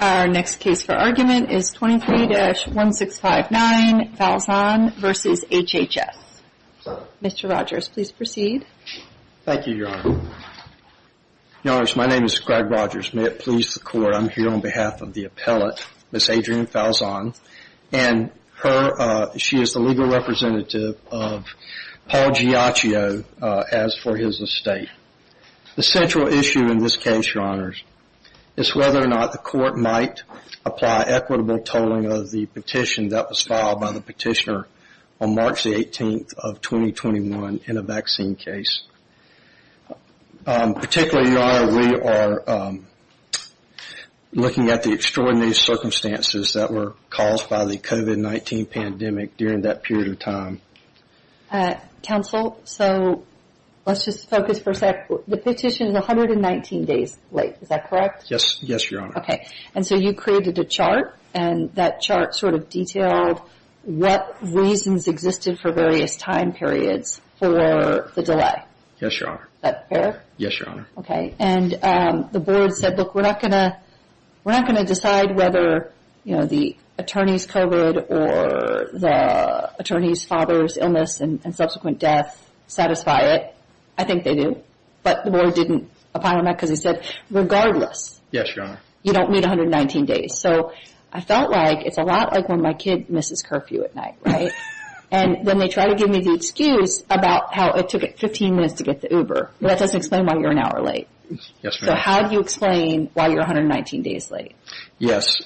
Our next case for argument is 23-1659 Falzon v. HHS. Mr. Rogers, please proceed. Thank you, Your Honor. Your Honor, my name is Greg Rogers. May it please the Court, I'm here on behalf of the appellate, Ms. Adrienne Falzon. And she is the legal representative of Paul Giaccio as for his estate. The central issue in this case, Your Honors, is whether or not the Court might apply equitable tolling of the petition that was filed by the petitioner on March the 18th of 2021 in a vaccine case. Particularly, Your Honor, we are looking at the extraordinary circumstances that were caused by the COVID-19 pandemic during that period of time. Counsel, so let's just focus for a sec. The petition is 119 days late, is that correct? Yes, Your Honor. Okay, and so you created a chart and that chart sort of detailed what reasons existed for various time periods for the delay. Yes, Your Honor. Is that fair? Yes, Your Honor. Okay, and the board said, look, we're not going to decide whether, you know, the attorney's COVID or the attorney's father's illness and subsequent death satisfy it. I think they do. But the board didn't apply on that because they said, regardless. Yes, Your Honor. You don't meet 119 days. So I felt like it's a lot like when my kid misses curfew at night, right? And then they try to give me the excuse about how it took it 15 minutes to get the Uber. That doesn't explain why you're an hour late. Yes, Your Honor. So how do you explain why you're 119 days late? Yes,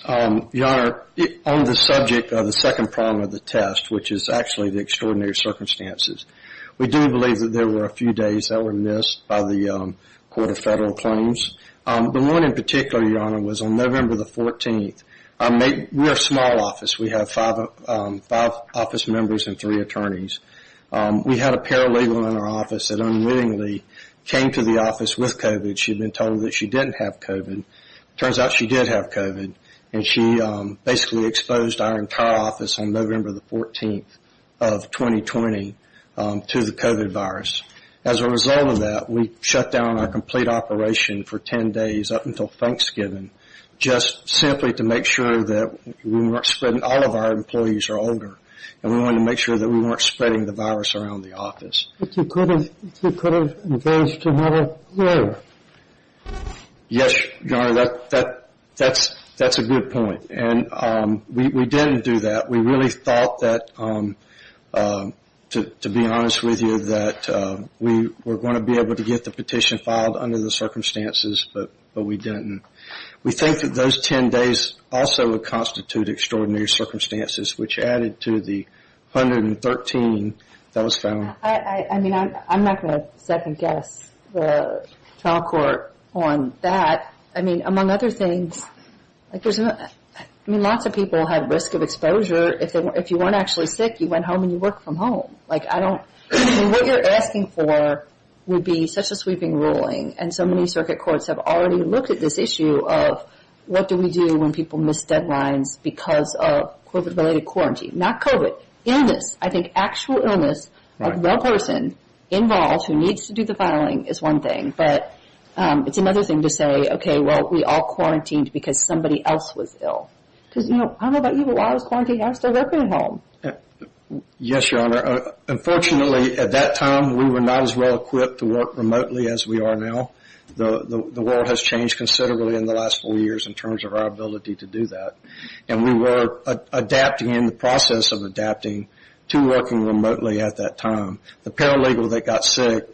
Your Honor, on the subject of the second problem of the test, which is actually the extraordinary circumstances, we do believe that there were a few days that were missed by the Court of Federal Claims. The one in particular, Your Honor, was on November the 14th. We're a small office. We have five office members and three attorneys. We had a paralegal in our office that unwittingly came to the office with COVID. She'd been told that she didn't have COVID. Turns out she did have COVID, and she basically exposed our entire office on November the 14th of 2020 to the COVID virus. As a result of that, we shut down our complete operation for 10 days up until Thanksgiving just simply to make sure that all of our employees are older, and we wanted to make sure that we weren't spreading the virus around the office. But you could have engaged another lawyer. Yes, Your Honor, that's a good point, and we didn't do that. We really thought that, to be honest with you, that we were going to be able to get the petition filed under the circumstances, but we didn't. We think that those 10 days also would constitute extraordinary circumstances, which added to the 113 that was found. I mean, I'm not going to second-guess the trial court on that. I mean, among other things, I mean, lots of people have risk of exposure. If you weren't actually sick, you went home and you worked from home. Like, I don't – I mean, what you're asking for would be such a sweeping ruling, and so many circuit courts have already looked at this issue of what do we do when people miss deadlines because of COVID-related quarantine. Not COVID, illness. I think actual illness of the person involved who needs to do the filing is one thing, but it's another thing to say, okay, well, we all quarantined because somebody else was ill. Because, you know, I don't know about you, but while I was quarantined, I was still working from home. Yes, Your Honor. Unfortunately, at that time, we were not as well-equipped to work remotely as we are now. The world has changed considerably in the last four years in terms of our ability to do that, and we were adapting, in the process of adapting, to working remotely at that time. The paralegal that got sick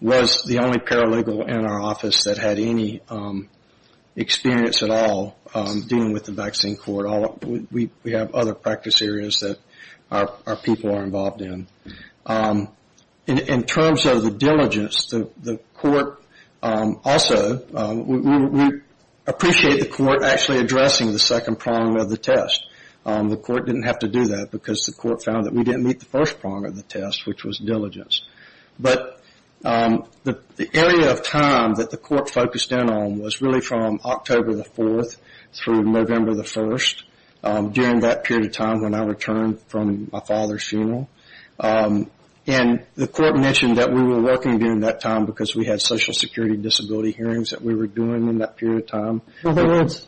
was the only paralegal in our office that had any experience at all dealing with the vaccine court. We have other practice areas that our people are involved in. In terms of the diligence, the court also – we appreciate the court actually addressing the second prong of the test. The court didn't have to do that because the court found that we didn't meet the first prong of the test, which was diligence. But the area of time that the court focused in on was really from October the 4th through November the 1st, during that period of time when I returned from my father's funeral. And the court mentioned that we were working during that time because we had social security disability hearings that we were doing in that period of time. In other words,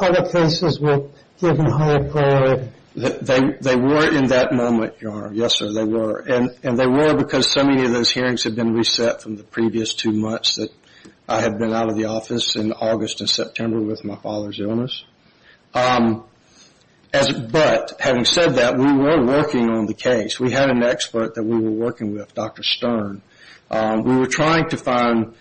other places were given higher priority. They were in that moment, Your Honor. Yes, sir, they were. And they were because so many of those hearings had been reset from the previous two months that I had been out of the office in August and September with my father's illness. But having said that, we were working on the case. We had an expert that we were working with, Dr. Stern. We were trying to find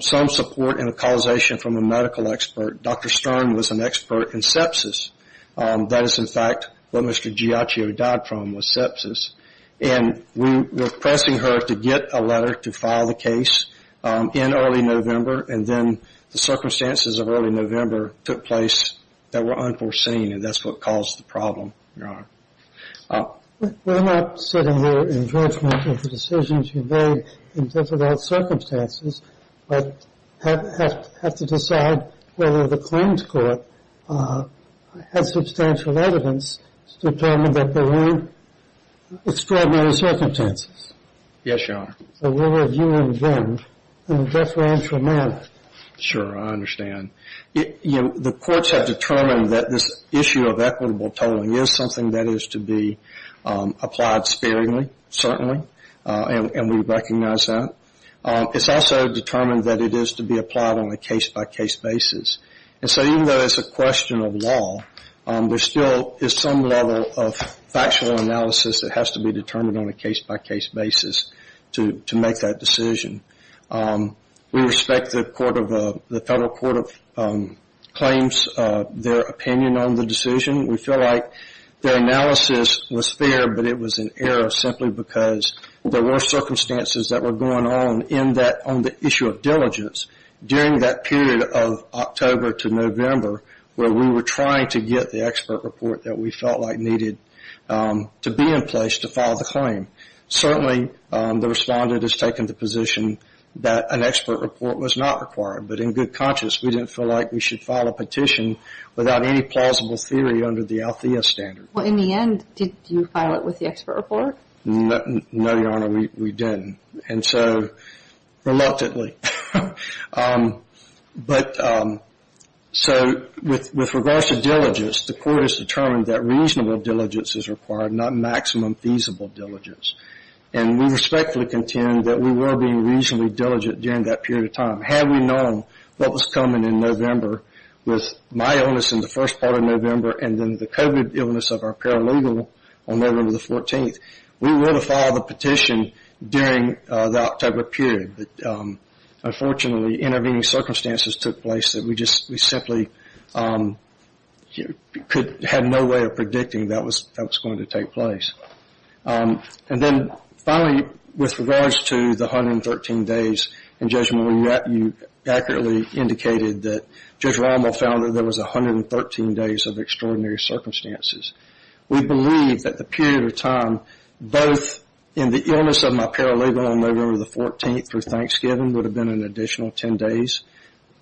some support and a causation from a medical expert. Dr. Stern was an expert in sepsis. That is, in fact, what Mr. Giaccio died from was sepsis. And we were pressing her to get a letter to file the case in early November, and then the circumstances of early November took place that were unforeseen, and that's what caused the problem, Your Honor. We're not sitting here in judgment of the decisions you made in difficult circumstances, but have to decide whether the claims court has substantial evidence to determine that there were extraordinary circumstances. Yes, Your Honor. So we're reviewing them in a deferential manner. Sure, I understand. The courts have determined that this issue of equitable tolling is something that is to be applied sparingly, certainly, and we recognize that. It's also determined that it is to be applied on a case-by-case basis. And so even though it's a question of law, there still is some level of factual analysis that has to be determined on a case-by-case basis to make that decision. We respect the Federal Court of Claims, their opinion on the decision. We feel like their analysis was fair, but it was an error simply because there were circumstances that were going on on the issue of diligence during that period of October to November where we were trying to get the expert report that we felt like needed to be in place to file the claim. Certainly, the respondent has taken the position that an expert report was not required, but in good conscience we didn't feel like we should file a petition without any plausible theory under the Althea standard. Well, in the end, did you file it with the expert report? No, Your Honor, we didn't, and so reluctantly. But so with regards to diligence, the court has determined that reasonable diligence is required, not maximum feasible diligence. And we respectfully contend that we were being reasonably diligent during that period of time. Had we known what was coming in November with my illness in the first part of November and then the COVID illness of our paralegal on November the 14th, we would have filed the petition during the October period. But unfortunately, intervening circumstances took place that we simply had no way of predicting that was going to take place. And then finally, with regards to the 113 days in judgment, you accurately indicated that Judge Rommel found that there was 113 days of extraordinary circumstances. We believe that the period of time both in the illness of my paralegal on November the 14th through Thanksgiving would have been an additional 10 days.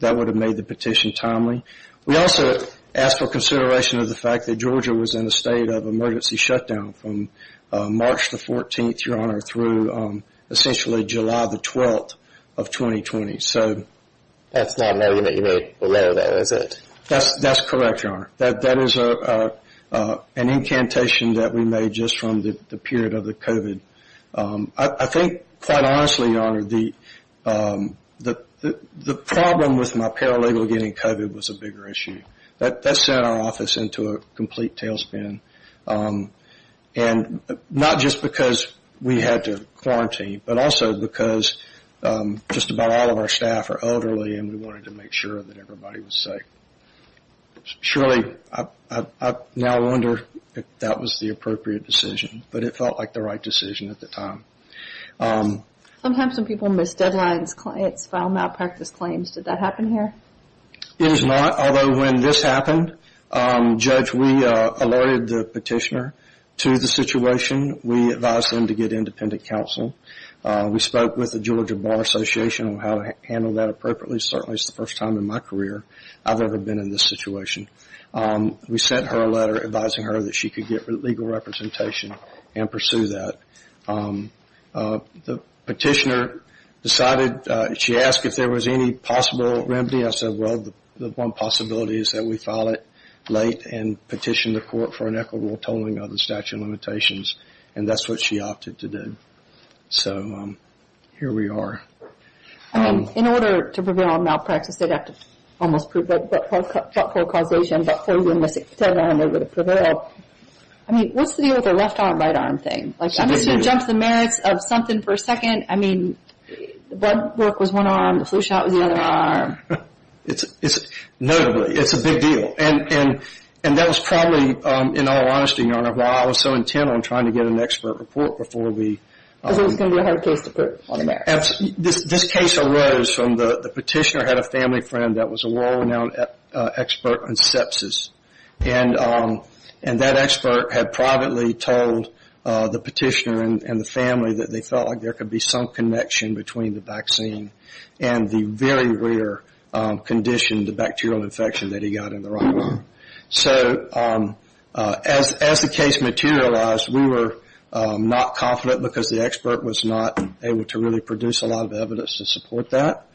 That would have made the petition timely. We also asked for consideration of the fact that Georgia was in a state of emergency shutdown from March the 14th, Your Honor, through essentially July the 12th of 2020. So that's not an argument you made below there, is it? That's correct, Your Honor. That is an incantation that we made just from the period of the COVID. I think, quite honestly, Your Honor, the problem with my paralegal getting COVID was a bigger issue. That sent our office into a complete tailspin, and not just because we had to quarantine, but also because just about all of our staff are elderly and we wanted to make sure that everybody was safe. Surely, I now wonder if that was the appropriate decision, but it felt like the right decision at the time. Sometimes when people miss deadlines, clients file malpractice claims. Did that happen here? It was not, although when this happened, Judge, we alerted the petitioner to the situation. We advised them to get independent counsel. We spoke with the Georgia Bar Association on how to handle that appropriately. Certainly, it's the first time in my career I've ever been in this situation. We sent her a letter advising her that she could get legal representation and pursue that. The petitioner decided, she asked if there was any possible remedy. I said, well, the one possibility is that we file it late and petition the court for an equitable tolling of the statute of limitations, and that's what she opted to do. So here we are. I mean, in order to prevail on malpractice, they'd have to almost prove that forecausation, that forewarning was extended on in order to prevail. I mean, what's the deal with the left arm, right arm thing? I'm just going to jump to the merits of something for a second. I mean, blood work was one arm. The flu shot was the other arm. Notably, it's a big deal, and that was probably, in all honesty, Your Honor, why I was so intent on trying to get an expert report before we... Because it was going to be a hard case to prove on the merits. This case arose from the petitioner had a family friend that was a world-renowned expert on sepsis, and that expert had privately told the petitioner and the family that they felt like there could be some connection between the vaccine and the very rare condition, the bacterial infection that he got in the right arm. So as the case materialized, we were not confident because the expert was not able to really produce a lot of evidence to support that.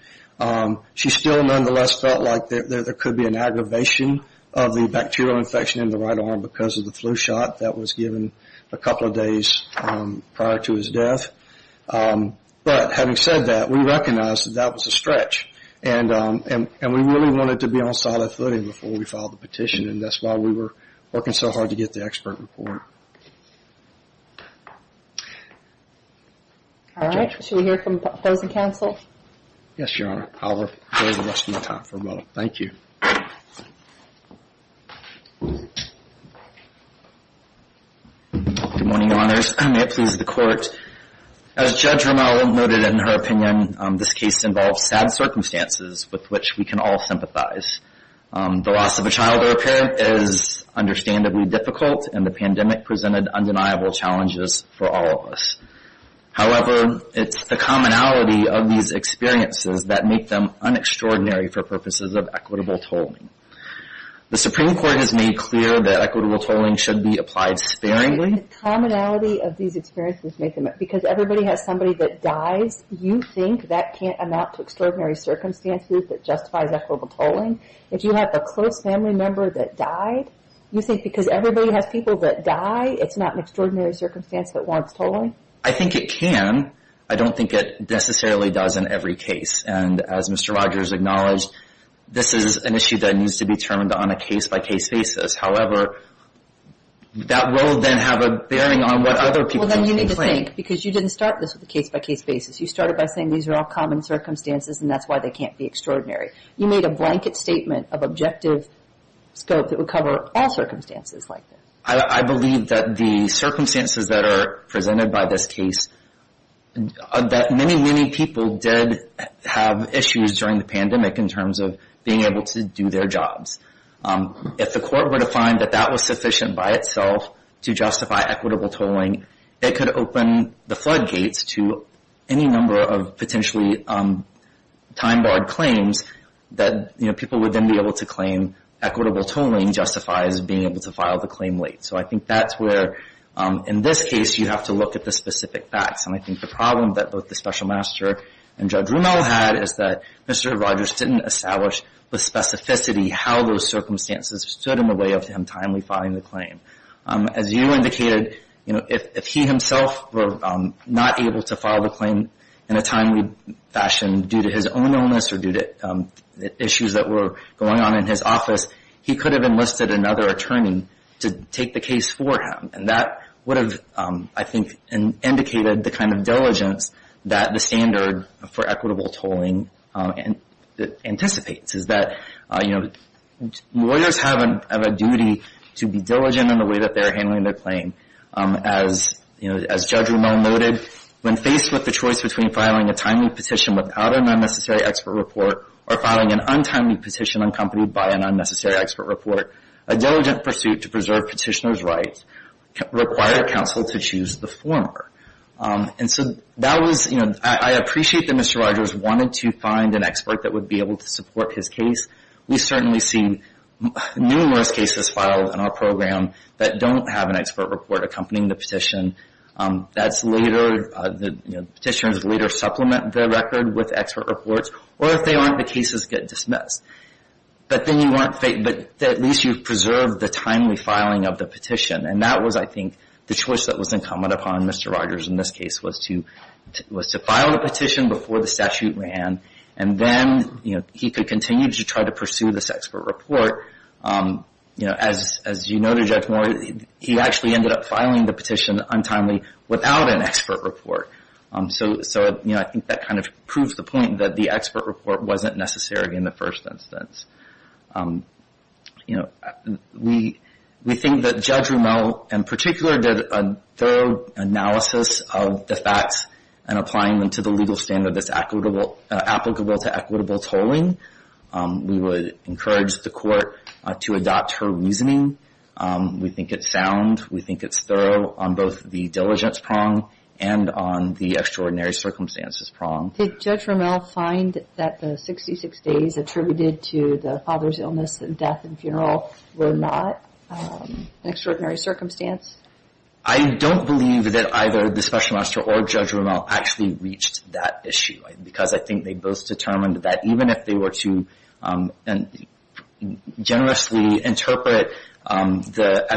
She still nonetheless felt like there could be an aggravation of the bacterial infection in the right arm because of the flu shot that was given a couple of days prior to his death. But having said that, we recognized that that was a stretch, and we really wanted to be on solid footing before we filed the petition, and that's why we were working so hard to get the expert report. All right. Should we hear from opposing counsel? Yes, Your Honor. I'll wait the rest of my time for a moment. Thank you. Good morning, Your Honors. May it please the Court. As Judge Romeau noted in her opinion, this case involves sad circumstances with which we can all sympathize. The loss of a child or a parent is understandably difficult, and the pandemic presented undeniable challenges for all of us. However, it's the commonality of these experiences that make them unextraordinary for purposes of equitable tolling. The Supreme Court has made clear that equitable tolling should be applied sparingly. The commonality of these experiences make them – because everybody has somebody that dies, you think that can't amount to extraordinary circumstances that justifies equitable tolling? If you have a close family member that died, you think because everybody has people that die, it's not an extraordinary circumstance that warrants tolling? I think it can. I don't think it necessarily does in every case. And as Mr. Rogers acknowledged, this is an issue that needs to be determined on a case-by-case basis. However, that will then have a bearing on what other people think. Well, then you need to think, because you didn't start this with a case-by-case basis. You started by saying these are all common circumstances, and that's why they can't be extraordinary. You made a blanket statement of objective scope that would cover all circumstances like this. I believe that the circumstances that are presented by this case, that many, many people did have issues during the pandemic in terms of being able to do their jobs. If the court were to find that that was sufficient by itself to justify equitable tolling, it could open the floodgates to any number of potentially time-barred claims that people would then be able to claim equitable tolling justifies being able to file the claim late. So I think that's where, in this case, you have to look at the specific facts. And I think the problem that both the Special Master and Judge Rumel had is that Mr. Rogers didn't establish with specificity how those circumstances stood in the way of him timely filing the claim. As you indicated, if he himself were not able to file the claim in a timely fashion due to his own illness or due to issues that were going on in his office, he could have enlisted another attorney to take the case for him. And that would have, I think, indicated the kind of diligence that the standard for equitable tolling anticipates, is that lawyers have a duty to be diligent in the way that they're handling their claim. As Judge Rumel noted, when faced with the choice between filing a timely petition without an unnecessary expert report or filing an untimely petition accompanied by an unnecessary expert report, a diligent pursuit to preserve petitioner's rights required counsel to choose the former. And so that was, you know, I appreciate that Mr. Rogers wanted to find an expert that would be able to support his case. We certainly see numerous cases filed in our program that don't have an expert report accompanying the petition. That's later, you know, petitioners later supplement the record with expert reports. Or if they aren't, the cases get dismissed. But then you weren't, but at least you've preserved the timely filing of the petition. And that was, I think, the choice that was incumbent upon Mr. Rogers in this case was to file the petition before the statute ran. And then, you know, he could continue to try to pursue this expert report. You know, as you noted, Judge Moore, he actually ended up filing the petition untimely without an expert report. So, you know, I think that kind of proves the point that the expert report wasn't necessary in the first instance. You know, we think that Judge Rommel in particular did a thorough analysis of the facts and applying them to the legal standard that's applicable to equitable tolling. We would encourage the court to adopt her reasoning. We think it's sound. We think it's thorough on both the diligence prong and on the extraordinary circumstances prong. Did Judge Rommel find that the 66 days attributed to the father's illness and death and funeral were not an extraordinary circumstance? I don't believe that either the special magistrate or Judge Rommel actually reached that issue. Because I think they both determined that even if they were to generously interpret the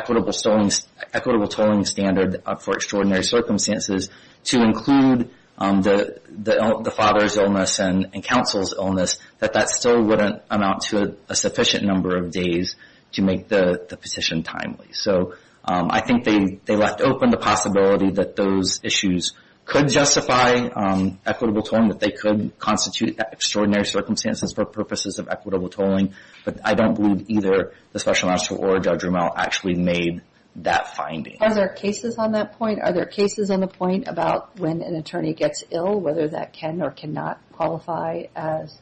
equitable tolling standard for extraordinary circumstances, to include the father's illness and counsel's illness, that that still wouldn't amount to a sufficient number of days to make the petition timely. So I think they left open the possibility that those issues could justify equitable tolling, that they could constitute extraordinary circumstances for purposes of equitable tolling. But I don't believe either the special magistrate or Judge Rommel actually made that finding. Are there cases on that point? Are there cases on the point about when an attorney gets ill, whether that can or cannot qualify as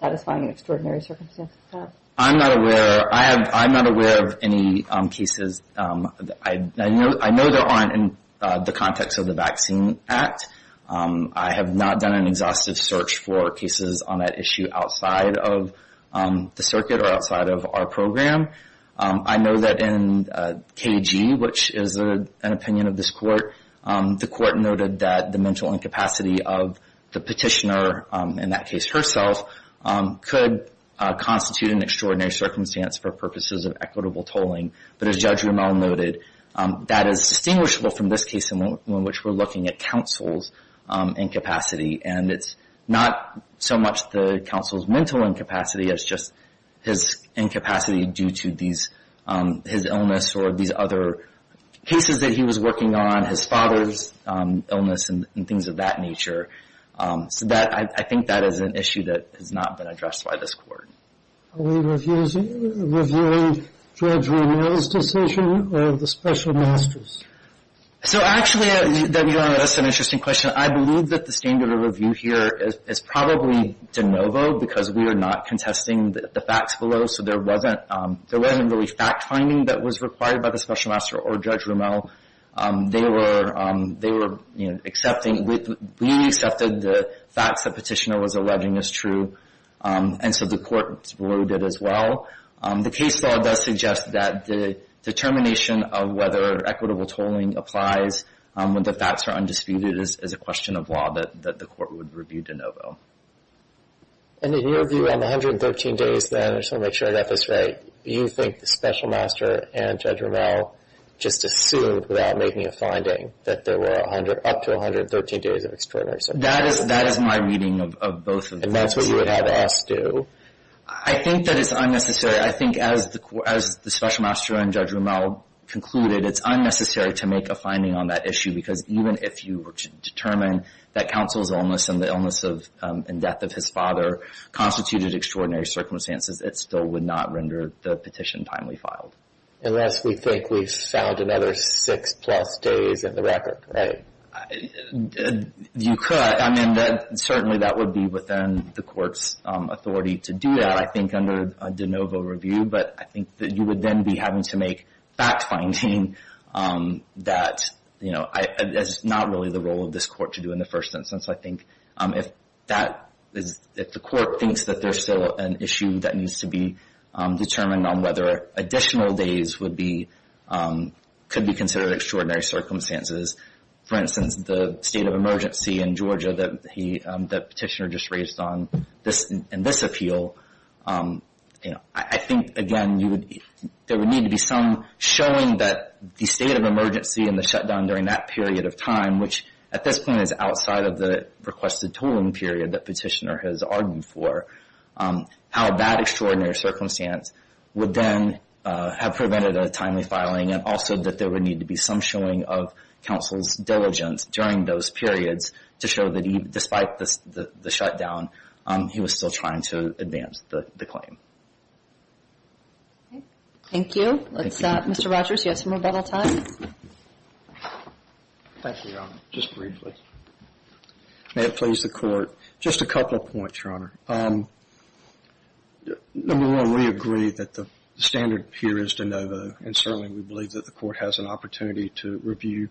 satisfying extraordinary circumstances? I'm not aware of any cases. I know there aren't in the context of the Vaccine Act. I have not done an exhaustive search for cases on that issue outside of the circuit or outside of our program. I know that in KG, which is an opinion of this court, the court noted that the mental incapacity of the petitioner, in that case herself, could constitute an extraordinary circumstance for purposes of equitable tolling. But as Judge Rommel noted, that is distinguishable from this case in which we're looking at counsel's incapacity. And it's not so much the counsel's mental incapacity, it's just his incapacity due to his illness or these other cases that he was working on, his father's illness and things of that nature. So I think that is an issue that has not been addressed by this court. Are we reviewing Judge Rommel's decision or the special magistrate's? So actually, that's an interesting question. I believe that the standard of review here is probably de novo because we are not contesting the facts below, so there wasn't really fact-finding that was required by the special magistrate or Judge Rommel. They were accepting, we accepted the facts the petitioner was alleging as true, and so the court voted as well. The case law does suggest that the determination of whether equitable tolling applies when the facts are undisputed is a question of law that the court would review de novo. And in your view on the 113 days then, I just want to make sure I got this right, you think the special magistrate and Judge Rommel just assumed without making a finding that there were up to 113 days of extraordinary circumstances? That is my reading of both of those. And that's what you would have us do? I think that it's unnecessary. I think as the special magistrate and Judge Rommel concluded, it's unnecessary to make a finding on that issue because even if you were to determine that counsel's illness and the illness and death of his father constituted extraordinary circumstances, it still would not render the petition timely filed. Unless we think we've filed another six-plus days in the record, right? You could. I mean, certainly that would be within the court's authority to do that, I think, under de novo review. But I think that you would then be having to make fact finding that, you know, that's not really the role of this court to do in the first instance. I think if the court thinks that there's still an issue that needs to be determined on whether additional days could be considered extraordinary circumstances, for instance, the state of emergency in Georgia that Petitioner just raised on in this appeal, I think, again, there would need to be some showing that the state of emergency and the shutdown during that period of time, which at this point is outside of the requested tolling period that Petitioner has argued for, how that extraordinary circumstance would then have prevented a timely filing and also that there would need to be some showing of counsel's diligence during those periods to show that despite the shutdown, he was still trying to advance the claim. Thank you. Mr. Rogers, you have some rebuttal time? Thank you, Your Honor. Just briefly. May it please the Court. Just a couple of points, Your Honor. Number one, we agree that the standard here is de novo, and certainly we believe that the Court has an opportunity to review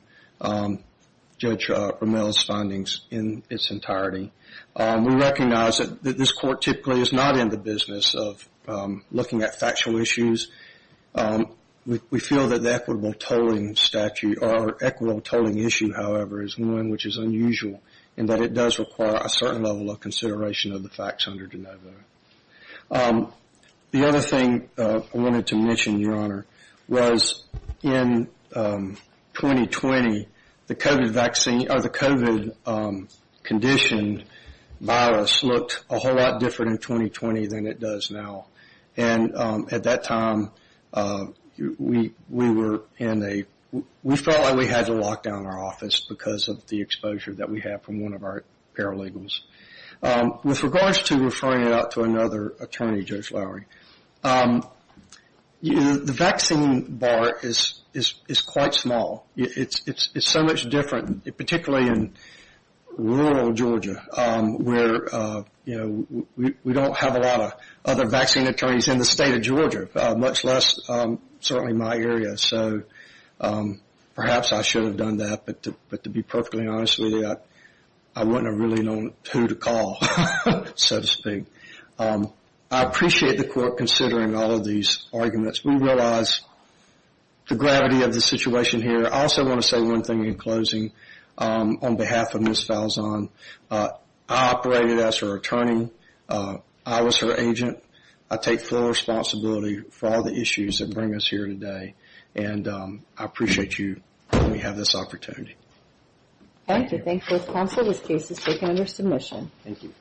Judge Romero's findings in its entirety. We recognize that this Court typically is not in the business of looking at factual issues. We feel that the equitable tolling statute or equitable tolling issue, however, is one which is unusual in that it does require a certain level of consideration of the facts under de novo. The other thing I wanted to mention, Your Honor, was in 2020, the COVID vaccine or the COVID-conditioned virus looked a whole lot different in 2020 than it does now. And at that time, we felt like we had to lock down our office because of the exposure that we had from one of our paralegals. With regards to referring it out to another attorney, Judge Lowery, the vaccine bar is quite small. It's so much different, particularly in rural Georgia, where we don't have a lot of other vaccine attorneys in the state of Georgia, much less certainly my area. So perhaps I should have done that. But to be perfectly honest with you, I wouldn't have really known who to call, so to speak. I appreciate the Court considering all of these arguments. We realize the gravity of the situation here. I also want to say one thing in closing on behalf of Ms. Falzon. I operated as her attorney. I was her agent. I take full responsibility for all the issues that bring us here today. And I appreciate you letting me have this opportunity. Thank you. Thank you both counsel. This case is taken under submission. Thank you.